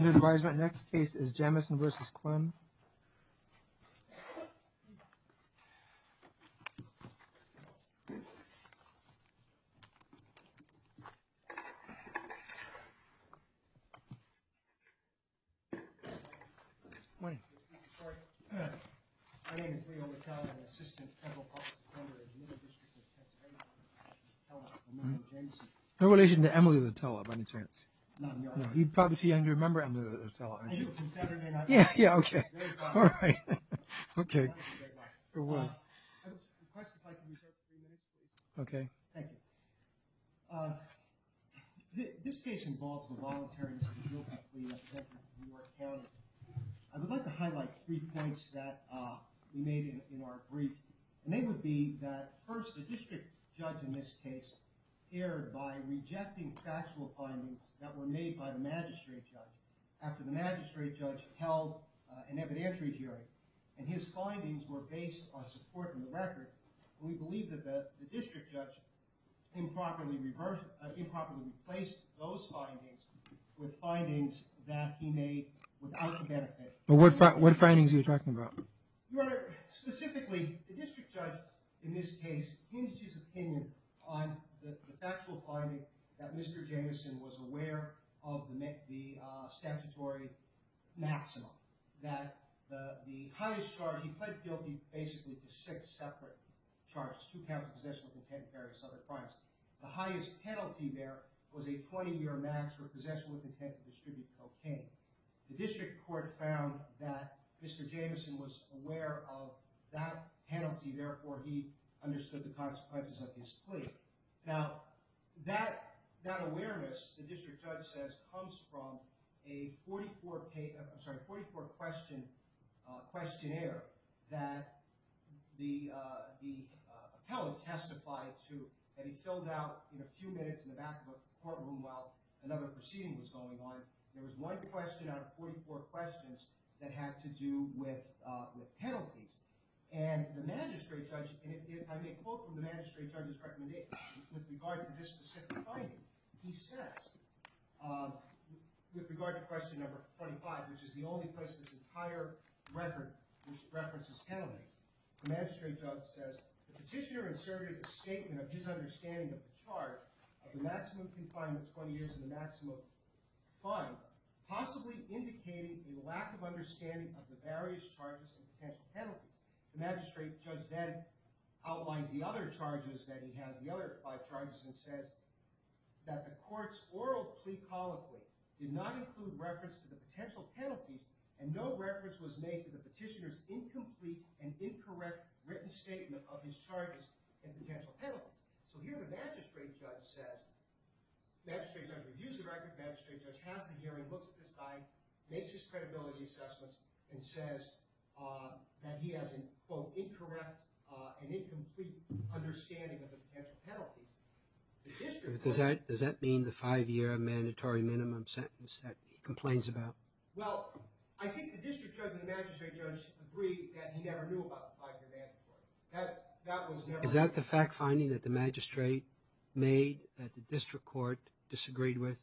Under advisement, next case is Jamison v. Klem. My name is Leo Lutella. I'm an assistant federal policy member in the Middle District of Pennsylvania. I'm a member of Jamison. I would like to highlight three points that we made in our brief, and they would be that first, the district judge in this case erred by rejecting factual findings that were made by the magistrate judge after the magistrate judge held an evidentiary hearing, and his findings were based on support from the record. We believe that the district judge improperly replaced those findings with findings that he made without the benefit. What findings are you talking about? Your Honor, specifically, the district judge in this case hinged his opinion on the factual finding that Mr. Jamison was aware of the statutory maximum, that the highest charge, he pled guilty basically to six separate charges, two counts of possession with intent of various other crimes. The highest penalty there was a 20-year max for possession with intent to distribute cocaine. The district court found that Mr. Jamison was aware of that penalty. Therefore, he understood the consequences of his plea. Now, that awareness, the district judge says, comes from a 44-question questionnaire that the appellant testified to, and he filled out in a few minutes in the back of the courtroom while another proceeding was going on. There was one question out of 44 questions that had to do with penalties, and the magistrate judge, and I made a quote from the magistrate judge's recommendation with regard to this specific finding. He says, with regard to question number 25, which is the only place in this entire record which references penalties, the magistrate judge says, the petitioner inserted a statement of his understanding of the charge of the maximum confinement of 20 years and the maximum fine, possibly indicating a lack of understanding of the various charges and potential penalties. The magistrate judge then outlines the other charges that he has, the other five charges, and says that the court's oral plea colloquy did not include reference to the potential penalties, and no reference was made to the petitioner's incomplete and incorrect written statement of his charges and potential penalties. So here the magistrate judge says, the magistrate judge reviews the record, the magistrate judge has the hearing, looks at this guy, makes his credibility assessments, and says that he has an, quote, incorrect and incomplete understanding of the potential penalties. Does that mean the five-year mandatory minimum sentence that he complains about? Well, I think the district judge and the magistrate judge agree that he never knew about the five-year mandatory. Is that the fact-finding that the magistrate made that the district court disagreed with?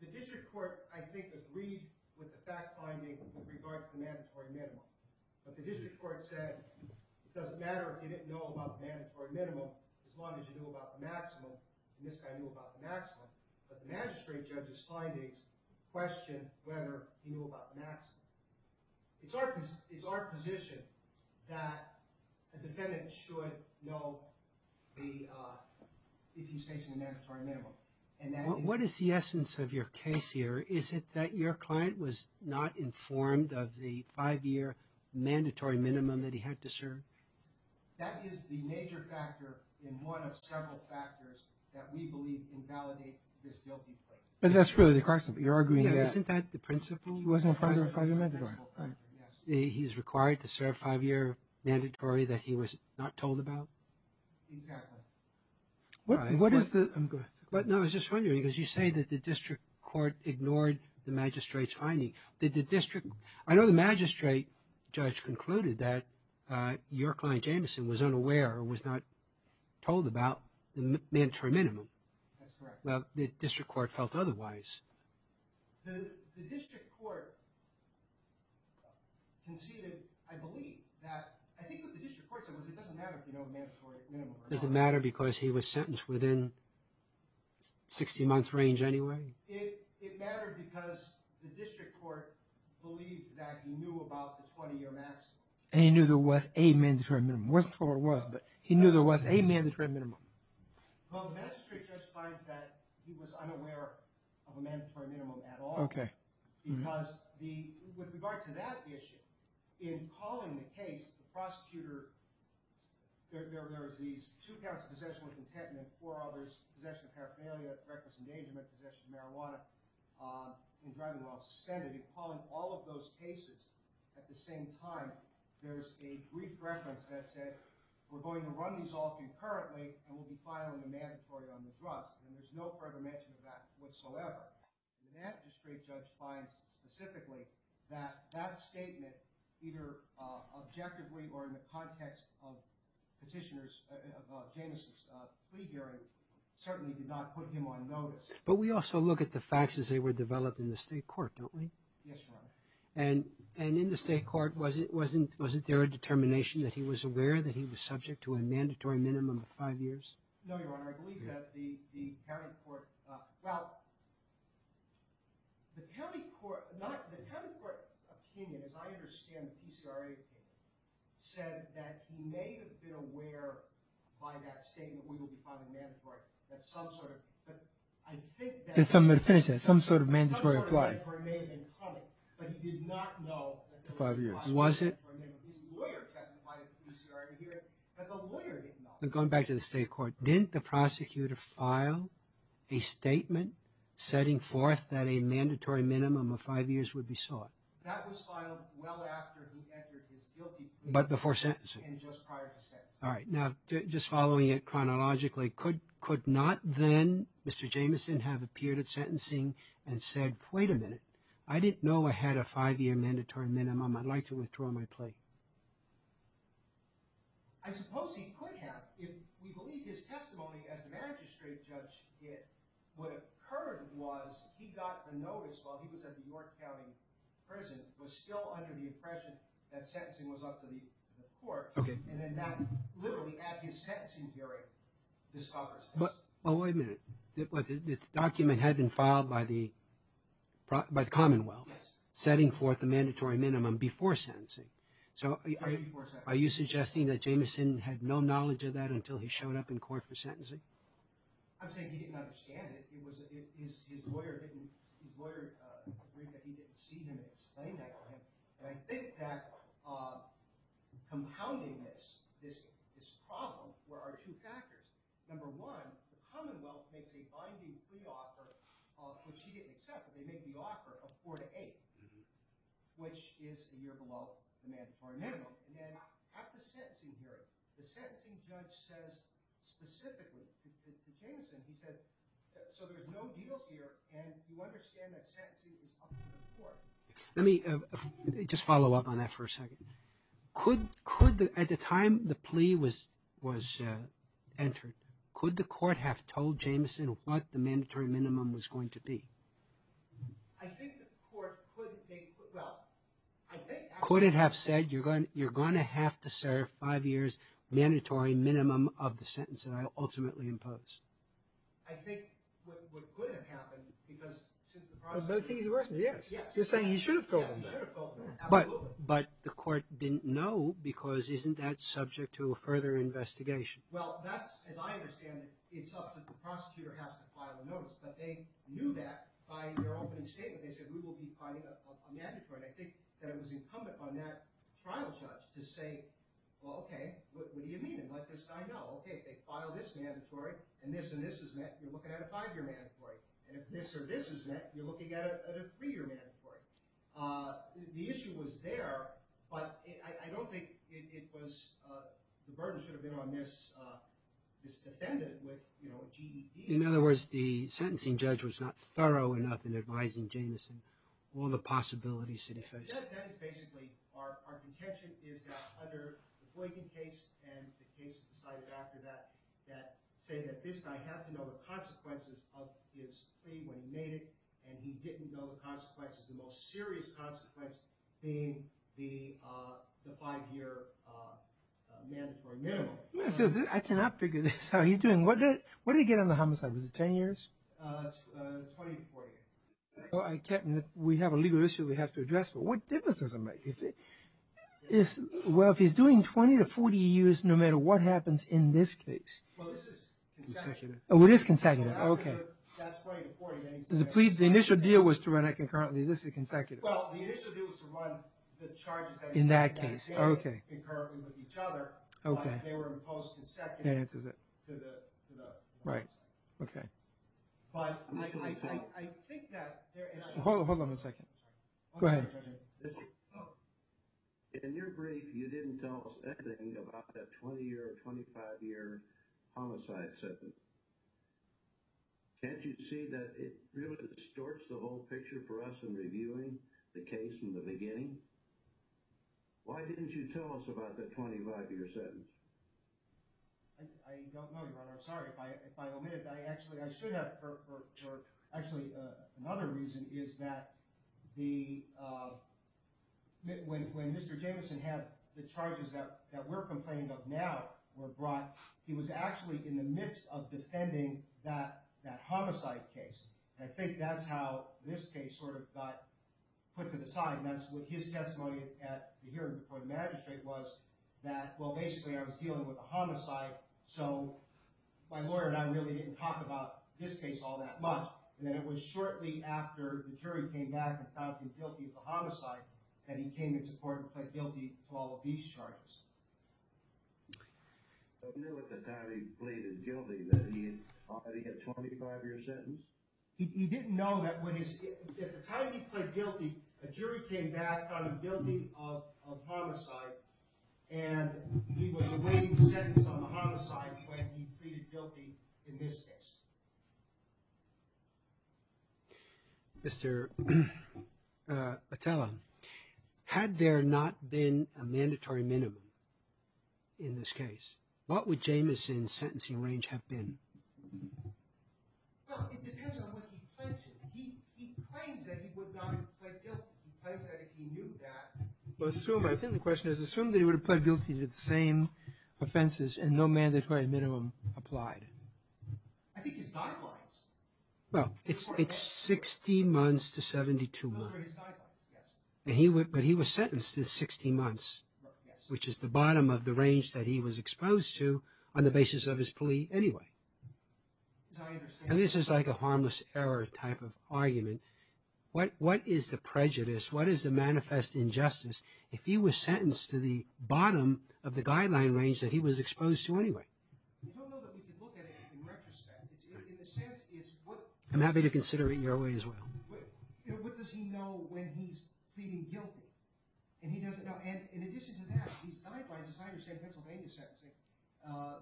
The district court, I think, agreed with the fact-finding with regard to the mandatory minimum. But the district court said, it doesn't matter if you didn't know about the mandatory minimum, as long as you knew about the maximum, and this guy knew about the maximum. But the magistrate judge's findings question whether he knew about the maximum. It's our position that a defendant should know if he's facing a mandatory minimum. What is the essence of your case here? Is it that your client was not informed of the five-year mandatory minimum that he had to serve? That is the major factor in one of several factors that we believe invalidate this guilty plea. But that's really the question. You're arguing that. Wasn't that the principle? It wasn't a five-year mandatory. He was required to serve a five-year mandatory that he was not told about? Exactly. I was just wondering, because you say that the district court ignored the magistrate's findings. I know the magistrate judge concluded that your client, Jameson, was unaware or was not told about the mandatory minimum. That's correct. Well, the district court felt otherwise. The district court conceded, I believe, that... I think what the district court said was it doesn't matter if you know the mandatory minimum. Does it matter because he was sentenced within 60-month range anyway? It mattered because the district court believed that he knew about the 20-year maximum. And he knew there was a mandatory minimum. It wasn't what it was, but he knew there was a mandatory minimum. Well, the magistrate judge finds that he was unaware of a mandatory minimum at all. Okay. Because with regard to that issue, in calling the case, the prosecutor... There was these two counts of possession with intent and then four others, possession of paraphernalia, reckless endangerment, possession of marijuana, and driving while suspended. In calling all of those cases at the same time, there's a brief reference that said, we're going to run these all concurrently and we'll be filing a mandatory on the drugs. And there's no further mention of that whatsoever. The magistrate judge finds specifically that that statement, either objectively or in the context of petitioners, of Jameson's plea hearing, certainly did not put him on notice. But we also look at the facts as they were developed in the state court, don't we? Yes, Your Honor. And in the state court, wasn't there a determination that he was aware that he was subject to a mandatory minimum of five years? No, Your Honor. I believe that the county court... Well, the county court opinion, as I understand the PCRA opinion, said that he may have been aware by that statement that we would be filing a mandatory. That some sort of... I think that... Did somebody finish that? Some sort of mandatory reply? Some sort of mandatory minimum, but he did not know... Five years. Was it? His lawyer testified at the PCRA hearing, but the lawyer did not. Going back to the state court, didn't the prosecutor file a statement setting forth that a mandatory minimum of five years would be sought? That was filed well after he entered his guilty plea. But before sentencing? And just prior to sentencing. All right. Now, just following it chronologically, could not then Mr. Jamieson have appeared at sentencing and said, wait a minute, I didn't know I had a five-year mandatory minimum. I'd like to withdraw my plea. I suppose he could have. We believe his testimony as the magistrate judge did. What occurred was he got the notice while he was at New York County Prison, was still under the impression that sentencing was up to the court. And then that literally, at his sentencing hearing, discovers this. Well, wait a minute. The document had been filed by the Commonwealth, setting forth a mandatory minimum before sentencing. Are you suggesting that Jamieson had no knowledge of that until he showed up in court for sentencing? I'm saying he didn't understand it. His lawyer agreed that he didn't see him explain that to him. And I think that compounding this problem were our two factors. Number one, the Commonwealth makes a binding plea offer, which he didn't accept. They make the offer of four to eight, which is a year below the mandatory minimum. And then at the sentencing hearing, the sentencing judge says specifically to Jamieson, he said, so there's no deals here, and you understand that sentencing is up to the court. Let me just follow up on that for a second. Could, at the time the plea was entered, could the court have told Jamieson what the mandatory minimum was going to be? I think the court could have said, you're going to have to serve five years mandatory minimum of the sentence that I ultimately imposed. I think what could have happened, because since the prosecutor... Yes, yes. You're saying you should have told him that. But the court didn't know because isn't that subject to a further investigation? Well, that's, as I understand it, it's up to the prosecutor has to file a notice. But they knew that by their opening statement. They said, we will be filing a mandatory. I think that it was incumbent on that trial judge to say, well, OK, what do you mean? Let this guy know. OK, if they file this mandatory, and this and this is met, you're looking at a five-year mandatory. And if this or this is met, you're looking at a three-year mandatory. The issue was there, but I don't think it was, the burden should have been on this defendant with, you know, a GED. In other words, the sentencing judge was not thorough enough in advising Jamieson. That is basically our contention is that under the Boykin case and the case decided after that, that saying that this guy had to know the consequences of his plea when he made it, and he didn't know the consequences, the most serious consequence being the five-year mandatory minimum. I cannot figure this out. What did he get on the homicide? Was it 10 years? 20 to 40. We have a legal issue we have to address, but what difference does it make? Well, if he's doing 20 to 40 years, no matter what happens in this case. Well, this is consecutive. Oh, it is consecutive. OK. That's 20 to 40. The initial deal was to run it concurrently. This is consecutive. Well, the initial deal was to run the charges concurrently with each other. OK. They were imposed consecutive to the homicide. Right. OK. But I think that there is… Hold on a second. Go ahead. In your brief, you didn't tell us anything about that 20-year or 25-year homicide sentence. Can't you see that it really distorts the whole picture for us in reviewing the case from the beginning? Why didn't you tell us about the 25-year sentence? I don't know, Your Honor. I'm sorry if I omitted. Actually, I should have. Actually, another reason is that when Mr. Jamieson had the charges that we're complaining of now were brought, he was actually in the midst of defending that homicide case. I think that's how this case sort of got put to the side. And that's what his testimony at the hearing before the magistrate was that, well, basically, I was dealing with a homicide, so my lawyer and I really didn't talk about this case all that much. And then it was shortly after the jury came back and found him guilty of the homicide that he came into court and pled guilty to all of these charges. So he knew at the time he pleaded guilty that he had already had a 25-year sentence? He didn't know that at the time he pled guilty, a jury came back, found him guilty of homicide, and he was awaiting sentence on the homicide when he pleaded guilty in this case. Mr. Attella, had there not been a mandatory minimum in this case, what would Jamieson's sentencing range have been? Well, it depends on what he pledged. He claims that he would not have pled guilty. He claims that if he knew that... Well, I think the question is, assume that he would have pled guilty to the same offenses and no mandatory minimum applied. I think his guidelines... Well, it's 60 months to 72 months. Those were his guidelines, yes. But he was sentenced to 60 months, which is the bottom of the range that he was exposed to on the basis of his plea anyway. As I understand... And this is like a harmless error type of argument. What is the prejudice, what is the manifest injustice if he was sentenced to the bottom of the guideline range that he was exposed to anyway? I don't know that we could look at it in retrospect. In a sense, it's what... I'm happy to consider it your way as well. What does he know when he's pleading guilty? And he doesn't know... And in addition to that, these guidelines, as I understand Pennsylvania sentencing,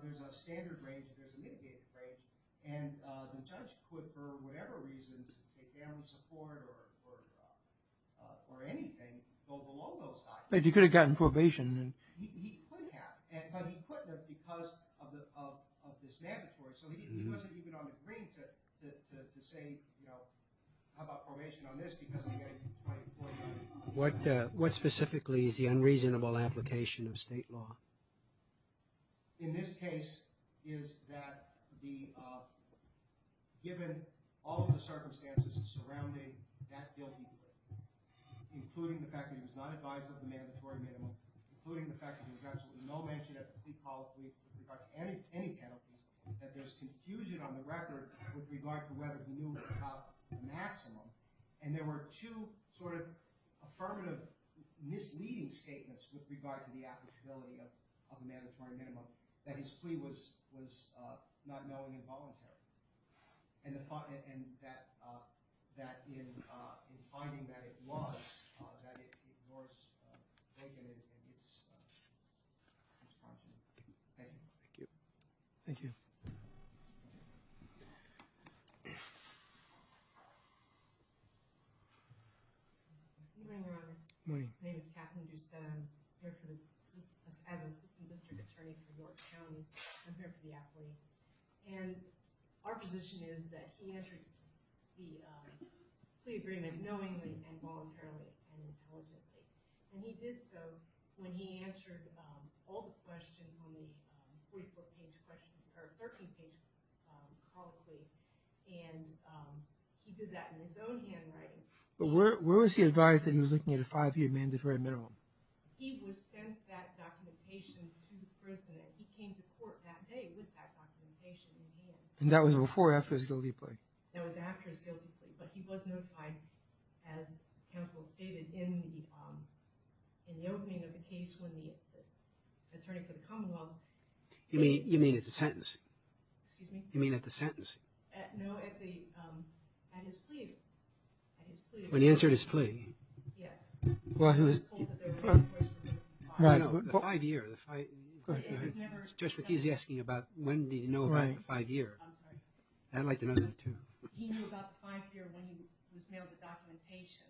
there's a standard range, there's a mitigated range, and the judge could, for whatever reasons, say family support or anything, go below those guidelines. But he could have gotten probation. He could have, but he couldn't because of this mandatory. So he wasn't even on the green to say, how about probation on this because... What specifically is the unreasonable application of state law? In this case, is that given all of the circumstances surrounding that guilty plea, including the fact that he was not advised of the mandatory minimum, including the fact that there was absolutely no mention of the plea policy with regard to any penalties, that there's confusion on the record with regard to whether he knew about the maximum. And there were two sort of affirmative misleading statements with regard to the applicability of a mandatory minimum that his plea was not knowing and voluntary. And that in finding that it was, that it was... Thank you. Thank you. Thank you. Good morning, Your Honor. Good morning. My name is Kathleen Doucette. I'm here for the... I'm a city district attorney for York County. I'm here for the affidavit. And our position is that he answered the plea agreement knowingly and voluntarily and intelligently. And he did so when he answered all the questions on the 14-page question, or 13-page colloquy. And he did that in his own handwriting. But where was he advised that he was looking at a five-year mandatory minimum? He was sent that documentation to the prison and he came to court that day with that documentation in hand. And that was before or after his guilty plea? That was after his guilty plea. But he was notified, as counsel stated, in the opening of the case when the attorney for the common law... You mean at the sentence? Excuse me? You mean at the sentence? No, at his plea. When he answered his plea. Yes. Well, he was told that there were... Right. The five-year. It was never... Just what he's asking about when did he know about the five-year. I'm sorry. I'd like to know that, too. He knew about the five-year when he was mailed the documentation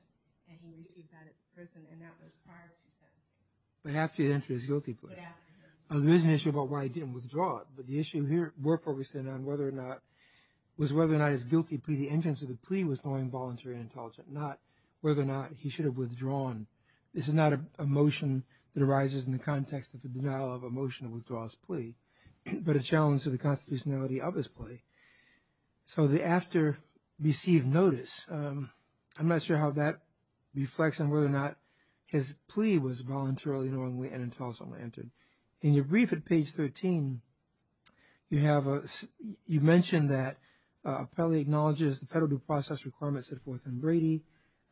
and he received that at the prison. And that was prior to his sentence. But after he answered his guilty plea. But after. There is an issue about why he didn't withdraw it. But the issue here... We're focusing on whether or not... It was whether or not his guilty plea, the entrance of the plea was knowing, voluntary, and intelligent. Not whether or not he should have withdrawn. This is not a motion that arises in the context of the denial of a motion that withdraws a plea, but a challenge to the constitutionality of his plea. So the after received notice. I'm not sure how that reflects on whether or not his plea was voluntarily, knowingly, and intelligently entered. In your brief at page 13, you have a... You mentioned that appellee acknowledges the federal due process requirements set forth in Brady.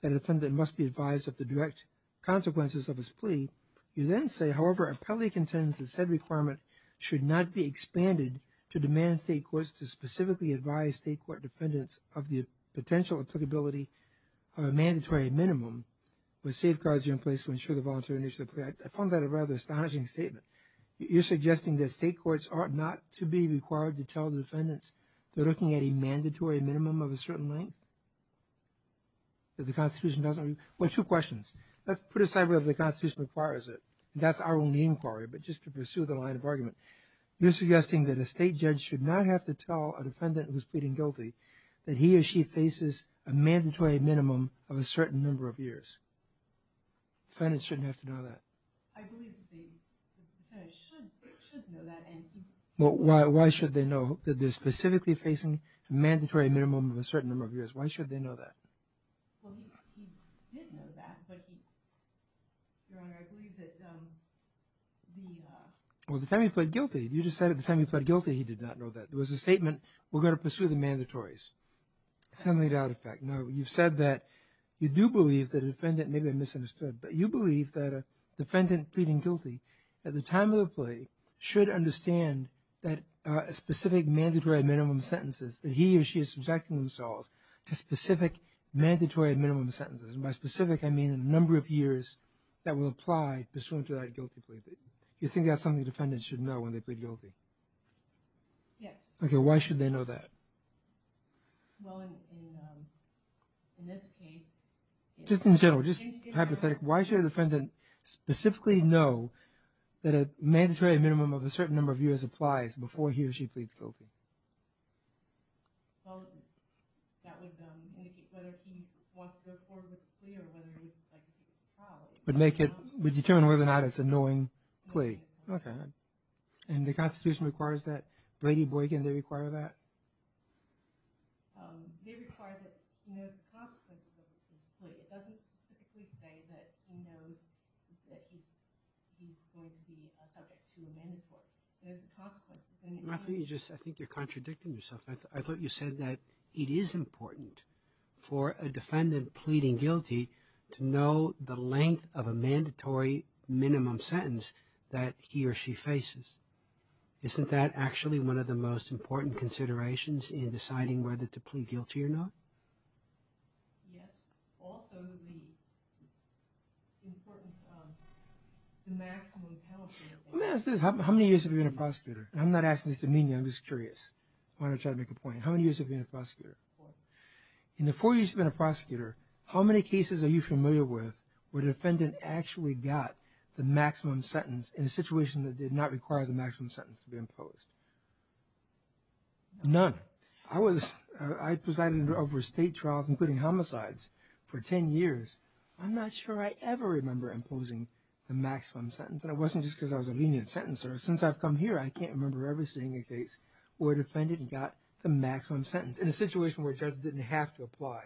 That a defendant must be advised of the direct consequences of his plea. You then say, however, appellee contends that said requirement should not be expanded to demand state courts to specifically advise state court defendants of the potential applicability of a mandatory minimum with safeguards in place to ensure the voluntary nature of the plea. I found that a rather astonishing statement. You're suggesting that state courts are not to be required to tell the defendants they're looking at a mandatory minimum of a certain length? That the constitution doesn't... Well, two questions. Let's put aside whether the constitution requires it. That's our only inquiry, but just to pursue the line of argument. You're suggesting that a state judge should not have to tell a defendant who's pleading guilty that he or she faces a mandatory minimum of a certain number of years. Defendants shouldn't have to know that. I believe that the defendants should know that and... Well, why should they know that they're specifically facing a mandatory minimum of a certain number of years? Why should they know that? Well, he did know that, but he... Your Honor, I believe that the... Well, the time he pled guilty, you just said at the time he pled guilty he did not know that. There was a statement, we're going to pursue the mandatories. Something to that effect. Now, you've said that you do believe that a defendant... Maybe I misunderstood. But you believe that a defendant pleading guilty at the time of the plea should understand that specific mandatory minimum sentences that he or she is subjecting themselves to specific mandatory minimum sentences. And by specific, I mean the number of years that will apply pursuant to that guilty plea. You think that's something defendants should know when they plead guilty? Yes. Okay, why should they know that? Well, in this case... Just in general, just hypothetically, why should a defendant specifically know that a mandatory minimum of a certain number of years applies before he or she pleads guilty? Well, that would indicate whether he wants to go forward with the plea or whether he's like... Would make it... Would determine whether or not it's a knowing plea. Okay. And the Constitution requires that. Brady Boykin, they require that? They require that he knows the consequences of his plea. It doesn't specifically say that he knows that he's going to be a subject to a mandatory. There's the consequences. Matthew, I think you're contradicting yourself. I thought you said that it is important for a defendant pleading guilty to know the length of a mandatory minimum sentence that he or she faces. Isn't that actually one of the most important considerations in deciding whether to plead guilty or not? Yes. Also, the importance of the maximum penalty... Let me ask this. How many years have you been a prosecutor? I'm not asking this to mean you. I'm just curious. I want to try to make a point. How many years have you been a prosecutor? Four. In the four years you've been a prosecutor, how many cases are you familiar with where the defendant actually got the maximum sentence in a situation that did not require the maximum sentence to be imposed? None. I presided over state trials, including homicides, for 10 years. I'm not sure I ever remember imposing the maximum sentence. And it wasn't just because I was a lenient sentencer. Since I've come here, I can't remember ever seeing a case where a defendant got the maximum sentence in a situation where judges didn't have to apply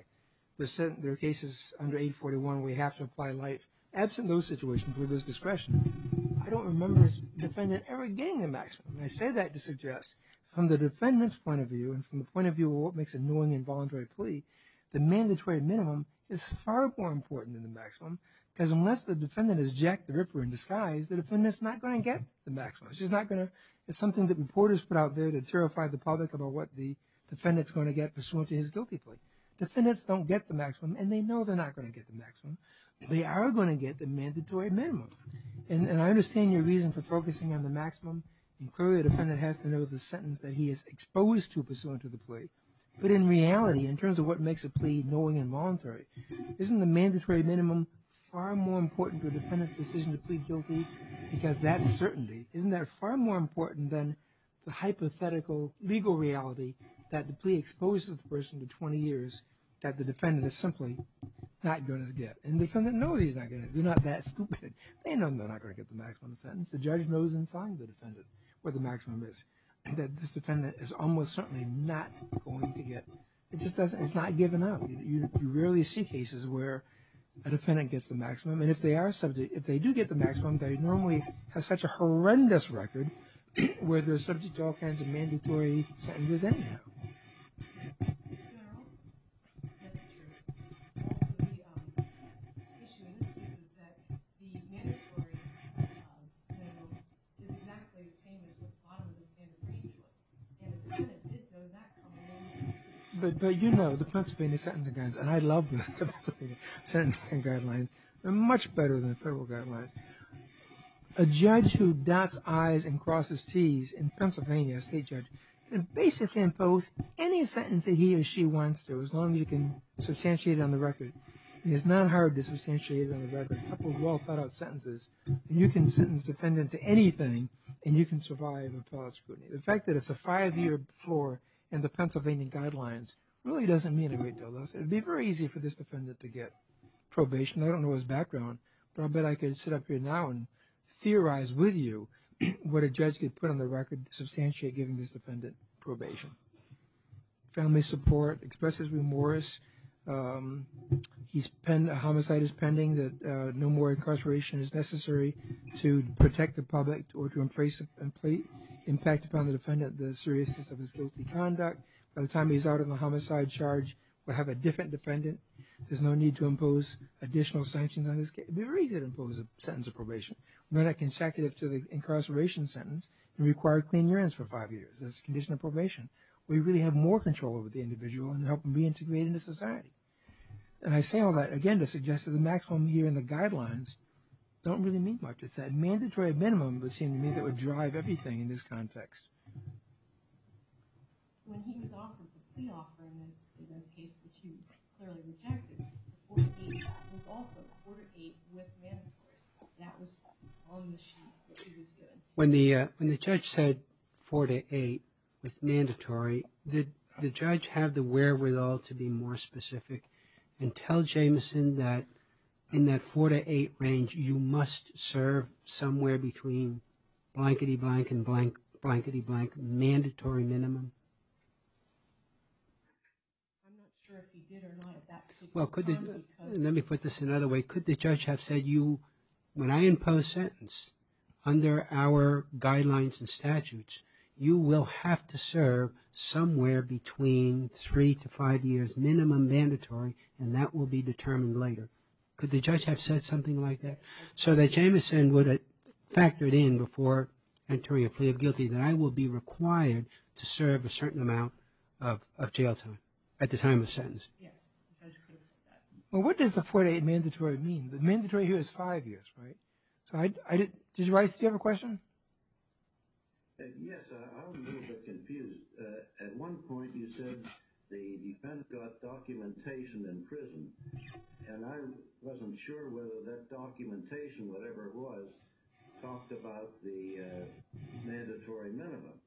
their cases under 841 where you have to apply life, absent those situations where there's discretion. I don't remember a defendant ever getting the maximum. I say that to suggest, from the defendant's point of view and from the point of view of what makes a knowing involuntary plea, the mandatory minimum is far more important than the maximum because unless the defendant has jacked the ripper in disguise, the defendant's not going to get the maximum. It's just not going to... It's something that reporters put out there to terrify the public about what the defendant's going to get pursuant to his guilty plea. Defendants don't get the maximum, and they know they're not going to get the maximum. They are going to get the mandatory minimum. And I understand your reason for focusing on the maximum. Clearly, the defendant has to know the sentence that he is exposed to pursuant to the plea. But in reality, in terms of what makes a plea knowing involuntary, isn't the mandatory minimum far more important to a defendant's decision to plead guilty? Because that's certainty. Isn't that far more important than the hypothetical legal reality that the plea exposes the person to 20 years that the defendant is simply not going to get? And the defendant knows he's not going to. They're not that stupid. They know they're not going to get the maximum sentence. The judge knows inside the defendant where the maximum is. This defendant is almost certainly not going to get... It's not given up. You rarely see cases where a defendant gets the maximum. And if they do get the maximum, they normally have such a horrendous record where they're subject to all kinds of mandatory sentences anyhow. But you know, the Pennsylvania Sentencing Guidelines, and I love the Pennsylvania Sentencing Guidelines. They're much better than the federal guidelines. A judge who dots I's and crosses T's in Pennsylvania, a state judge, can basically impose any sentence that he or she wants to, as long as you can substantiate it on the record. And it's not hard to substantiate it on the record. A couple of well-thought-out sentences, and you can sentence a defendant to anything, and you can survive appellate scrutiny. The fact that it's a five-year floor in the Pennsylvania Guidelines really doesn't mean a great deal. It would be very easy for this defendant to get probation. I don't know his background, but I bet I could sit up here now and theorize with you what a judge could put on the record to substantiate giving this defendant probation. Family support expresses remorse. A homicide is pending, that no more incarceration is necessary to protect the public or to embrace the impact upon the defendant the seriousness of his guilty conduct. By the time he's out on the homicide charge, we'll have a different defendant. There's no need to impose additional sanctions on this case. It would be very easy to impose a sentence of probation. Not a consecutive to the incarceration sentence and require clean urines for five years. That's a condition of probation. We really have more control over the individual and help them reintegrate into society. And I say all that, again, to suggest that the maximum here in the Guidelines don't really mean much. It's that mandatory minimum, it would seem to me, that would drive everything in this context. When the judge said four to eight with mandatory, did the judge have the wherewithal to be more specific and tell Jameson that in that four to eight range you must serve somewhere between blankety-blank and blank-blankety-blank mandatory minimum? I'm not sure if he did or not at that point. Well, let me put this another way. Could the judge have said, when I impose a sentence under our Guidelines and statutes, you will have to serve somewhere between three to five years minimum mandatory and that will be determined later. Could the judge have said something like that? So that Jameson would have factored in before entering a plea of guilty that I will be required to serve a certain amount of jail time at the time of sentence. Yes, the judge could have said that. Well, what does the four to eight mandatory mean? The mandatory here is five years, right? Did you have a question? Yes, I was a little bit confused. At one point you said the defense got documentation in prison and I wasn't sure whether that documentation, whatever it was, talked about the mandatory minimum.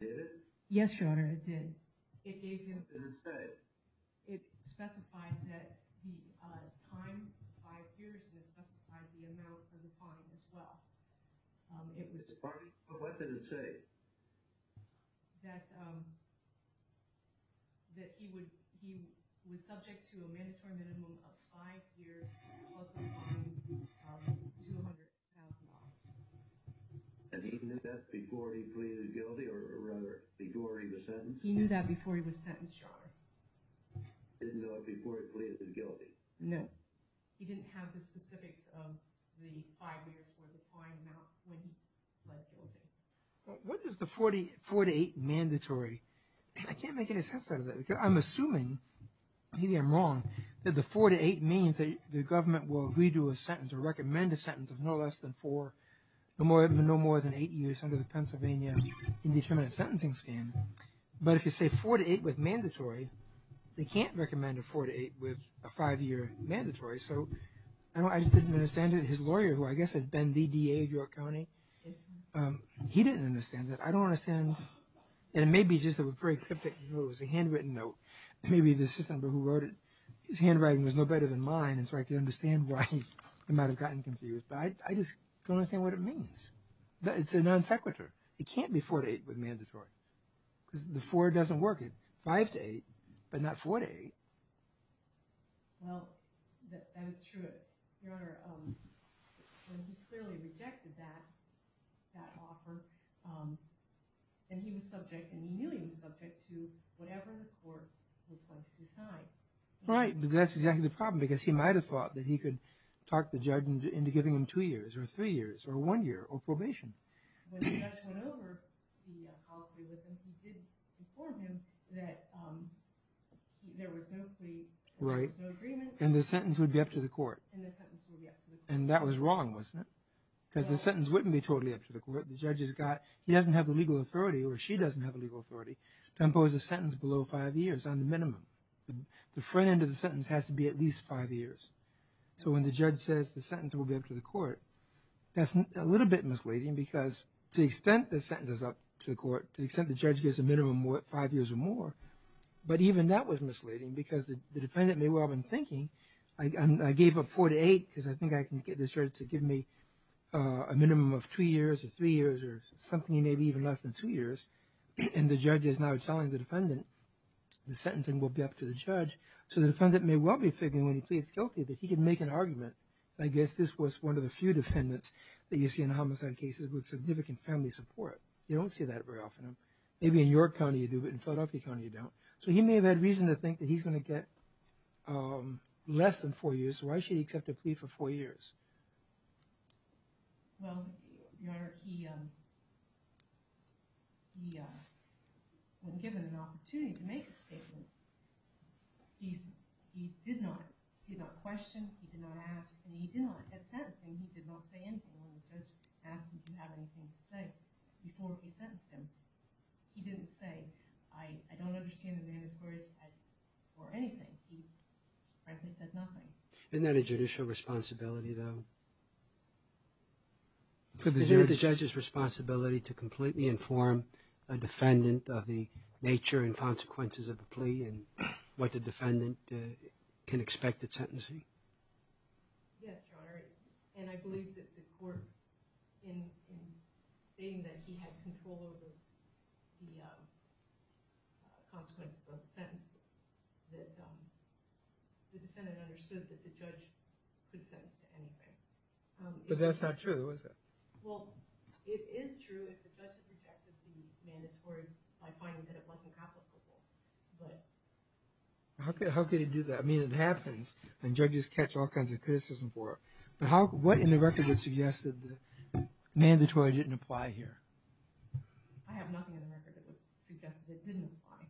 Did it? Yes, Your Honor, it did. It gave him... Did it say? It specified that the time, five years, and it specified the amount of the fine as well. It was... Pardon me, but what did it say? That he was subject to a mandatory minimum of five years plus a fine of $200,000. And he knew that before he pleaded guilty, or rather, before he was sentenced? He knew that before he was sentenced, Your Honor. He didn't know it before he pleaded guilty? No. He didn't have the specifics of the five years or the fine amount when he pled guilty. What is the four to eight mandatory? I can't make any sense out of that. I'm assuming, maybe I'm wrong, that the four to eight means that the government will redo a sentence or recommend a sentence of no less than four, no more than eight years under the Pennsylvania Indeterminate Sentencing Scheme. But if you say four to eight with mandatory, they can't recommend a four to eight with a five-year mandatory. So I just didn't understand it. His lawyer, who I guess had been the DA of York County, he didn't understand that. I don't understand. And it may be just a very cryptic, it was a handwritten note. It may be the assistant who wrote it. His handwriting was no better than mine, and so I can understand why he might have gotten confused. But I just don't understand what it means. It's a non sequitur. It can't be four to eight with mandatory. Because the four doesn't work. It's five to eight, but not four to eight. Well, that is true. Your Honor, when he clearly rejected that offer, and he was subject, and he knew he was subject to whatever the court was going to decide. Right, but that's exactly the problem, because he might have thought that he could talk the judge into giving him two years or three years or one year or probation. When the judge went over, he did inform him that there was no plea, there was no agreement. Right, and the sentence would be up to the court. And the sentence would be up to the court. And that was wrong, wasn't it? Because the sentence wouldn't be totally up to the court. The judge has got, he doesn't have the legal authority, or she doesn't have the legal authority, to impose a sentence below five years on the minimum. The front end of the sentence has to be at least five years. So when the judge says the sentence will be up to the court, that's a little bit misleading, because to the extent the sentence is up to the court, to the extent the judge gives a minimum of five years or more, but even that was misleading, because the defendant may well have been thinking, I gave up four to eight, because I think I can get this judge to give me a minimum of two years or three years or something, maybe even less than two years. And the judge is now telling the defendant the sentence will be up to the judge. So the defendant may well be thinking, when he pleads guilty, that he can make an argument. I guess this was one of the few defendants that you see in homicide cases with significant family support. You don't see that very often. Maybe in York County you do, but in Philadelphia County you don't. So he may have had reason to think that he's going to get less than four years, so why should he accept a plea for four years? Well, Your Honor, he wasn't given an opportunity to make a statement. He did not. He did not question. He did not ask. And he did not get sentencing. He did not say anything when the judge asked him if he had anything to say before he sentenced him. He didn't say, I don't understand the mandatory or anything. He frankly said nothing. Isn't that a judicial responsibility, though? Isn't it the judge's responsibility to completely inform a defendant of the nature and consequences of the plea and what the defendant can expect at sentencing? Yes, Your Honor. And I believe that the court, in saying that he had control over the consequences of the sentence, that the defendant understood that the judge could sentence to anything. But that's not true, is it? Well, it is true. I don't know if the judge has rejected the mandatory by finding that it wasn't complicable. How could he do that? I mean, it happens, and judges catch all kinds of criticism for it. But what in the record would suggest that the mandatory didn't apply here? I have nothing in the record that would suggest that it didn't apply.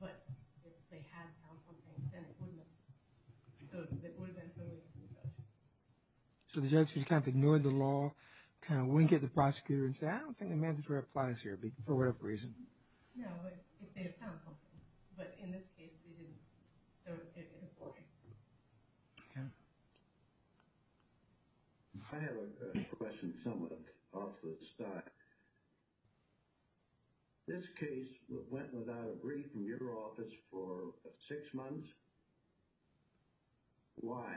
But if they had found something, then it would have been. So it would have been so easy for the judge. So the judge just kind of ignored the law, kind of winked at the prosecutor and said, I don't think the mandatory applies here, for whatever reason. No, if they had found something. But in this case, they didn't. So it didn't apply. Yeah. I have a question somewhat off the start. This case went without a brief in your office for six months. Why?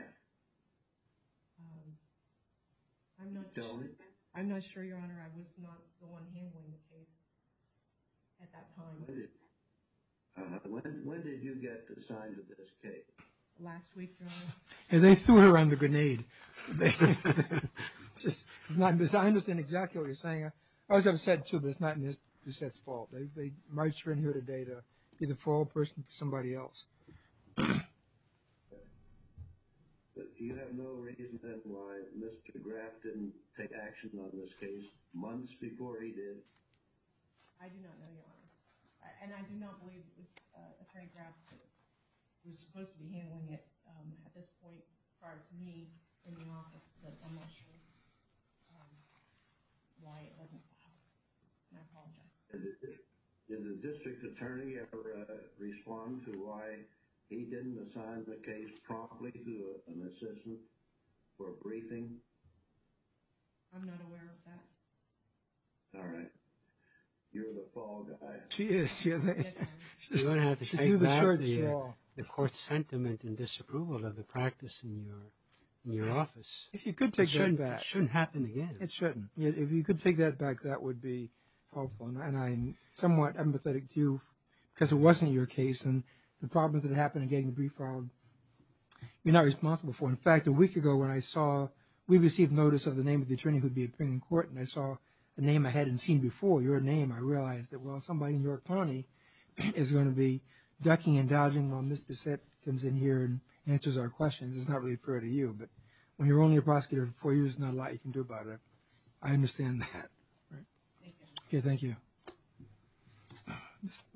I'm not sure, Your Honor. I was not the one handling the case at that time. When did you get assigned to this case? Last week, Your Honor. And they threw it around the grenade. I understand exactly what you're saying. I was upset, too, but it's not Miss Bassett's fault. They marched her in here today to be the fall person for somebody else. But do you have no reason then why Mr. Graff didn't take action on this case months before he did? I do not know, Your Honor. And I do not believe it was Attorney Graff who was supposed to be handling it at this point. As far as me in the office, I'm not sure why it wasn't allowed. And I apologize. Did the district attorney ever respond to why he didn't assign the case promptly to an assessment for a briefing? I'm not aware of that. All right. You're the fall guy. She is. You're going to have to take back the court sentiment and disapproval of the practice in your office. It shouldn't happen again. It shouldn't. If you could take that back, that would be helpful. And I'm somewhat empathetic to you because it wasn't your case and the problems that happened in getting the brief filed, you're not responsible for. In fact, a week ago when I saw, we received notice of the name of the attorney who would be appearing in court and I saw the name I hadn't seen before, your name, I realized that while somebody in York County is going to be ducking and dodging while Ms. Bissette comes in here and answers our questions, it's not really fair to you. But when you're only a prosecutor for four years, there's not a lot you can do about it. I understand that. Okay, thank you.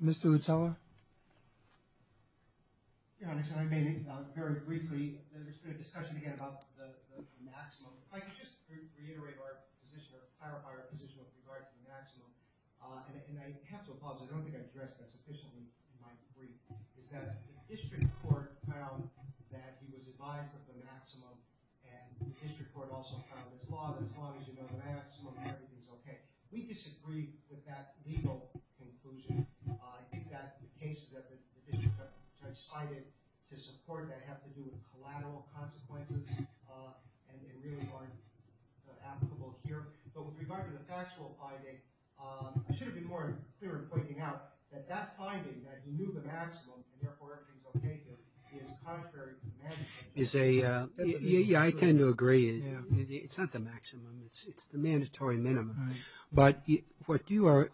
Mr. Utsella? Your Honor, I may, very briefly, there's been a discussion again about the maximum. If I could just reiterate our position, or clarify our position with regard to the maximum, and I have to apologize, I don't think I addressed that sufficiently in my brief, is that the district court found that he was advised of the maximum and the district court also filed this law that as long as you know the maximum, everything's okay. We disagree with that legal conclusion. I think that the cases that the district court decided to support that have to do with collateral consequences and really aren't applicable here. But with regard to the factual finding, I should have been more clear in pointing out that that finding, that he knew the maximum and therefore everything's okay, is contrary to the mandatory minimum. Yeah, I tend to agree. It's not the maximum, it's the mandatory minimum. But what you are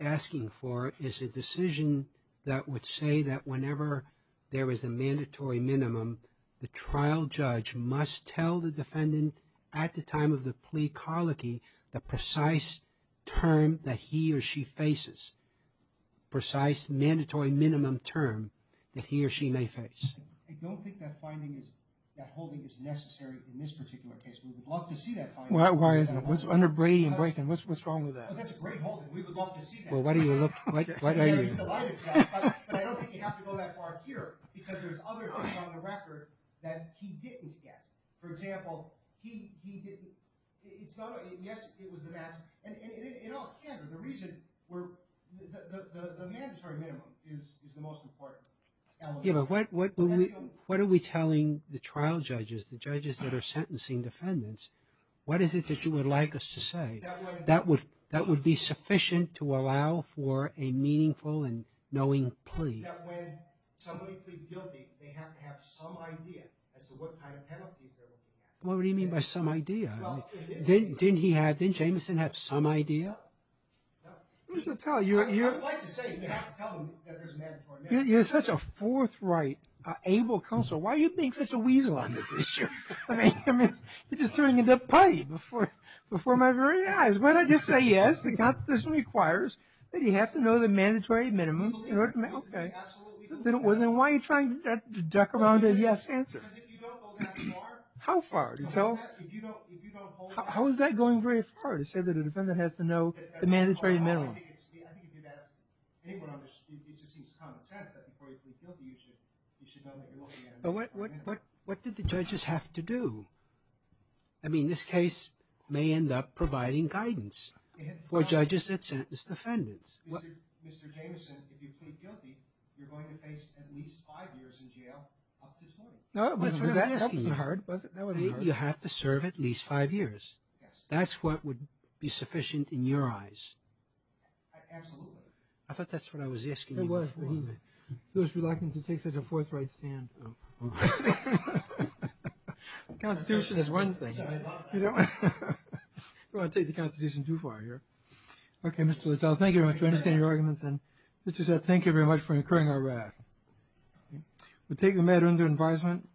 asking for is a decision that would say that whenever there is a mandatory minimum, the trial judge must tell the defendant at the time of the plea colicky the precise term that he or she faces, precise mandatory minimum term that he or she may face. I don't think that finding is, that holding is necessary in this particular case. We would love to see that finding. Why isn't it? What's under Brady and Brayton? What's wrong with that? That's a great holding. We would love to see that. Well, why do you look, why are you? But I don't think you have to go that far here because there's other things on the record that he didn't get. For example, he didn't, it's not a, yes, it was the maximum. And in all candor, the reason, the mandatory minimum is the most important element. Yeah, but what are we telling the trial judges, the judges that are sentencing defendants, what is it that you would like us to say that would be sufficient to allow for a meaningful and knowing plea? That when somebody pleads guilty, they have to have some idea as to what kind of penalties they're looking at. What do you mean by some idea? Didn't he have, didn't Jamison have some idea? No. I would like to say, you have to tell them that there's a mandatory minimum. You're such a forthright, able counsel. Why are you being such a weasel on this issue? I mean, you're just turning into a putty before my very eyes. Why don't you just say yes? The constitution requires that you have to know the mandatory minimum in order to, okay. Then why are you trying to duck around a yes answer? How far? How is that going very far to say that a defendant has to know the mandatory minimum? I think if you ask anyone on this, it just seems common sense that before you plead guilty, you should know that you're looking at a mandatory minimum. But what did the judges have to do? I mean, this case may end up providing guidance for judges that sentenced the defendants. Mr. Jamison, if you plead guilty, you're going to face at least five years in jail, up to 20. No, that wasn't hard. You have to serve at least five years. Yes. That's what would be sufficient in your eyes. Absolutely. I thought that's what I was asking you before. It was, but he was reluctant to take such a forthright stand. Oh. Constitution is one thing. I love that. You don't want to take the constitution too far here. Okay, Mr. Littrell, thank you very much. We understand your arguments. And just to say thank you very much for incurring our wrath. We'll take the matter under advisement.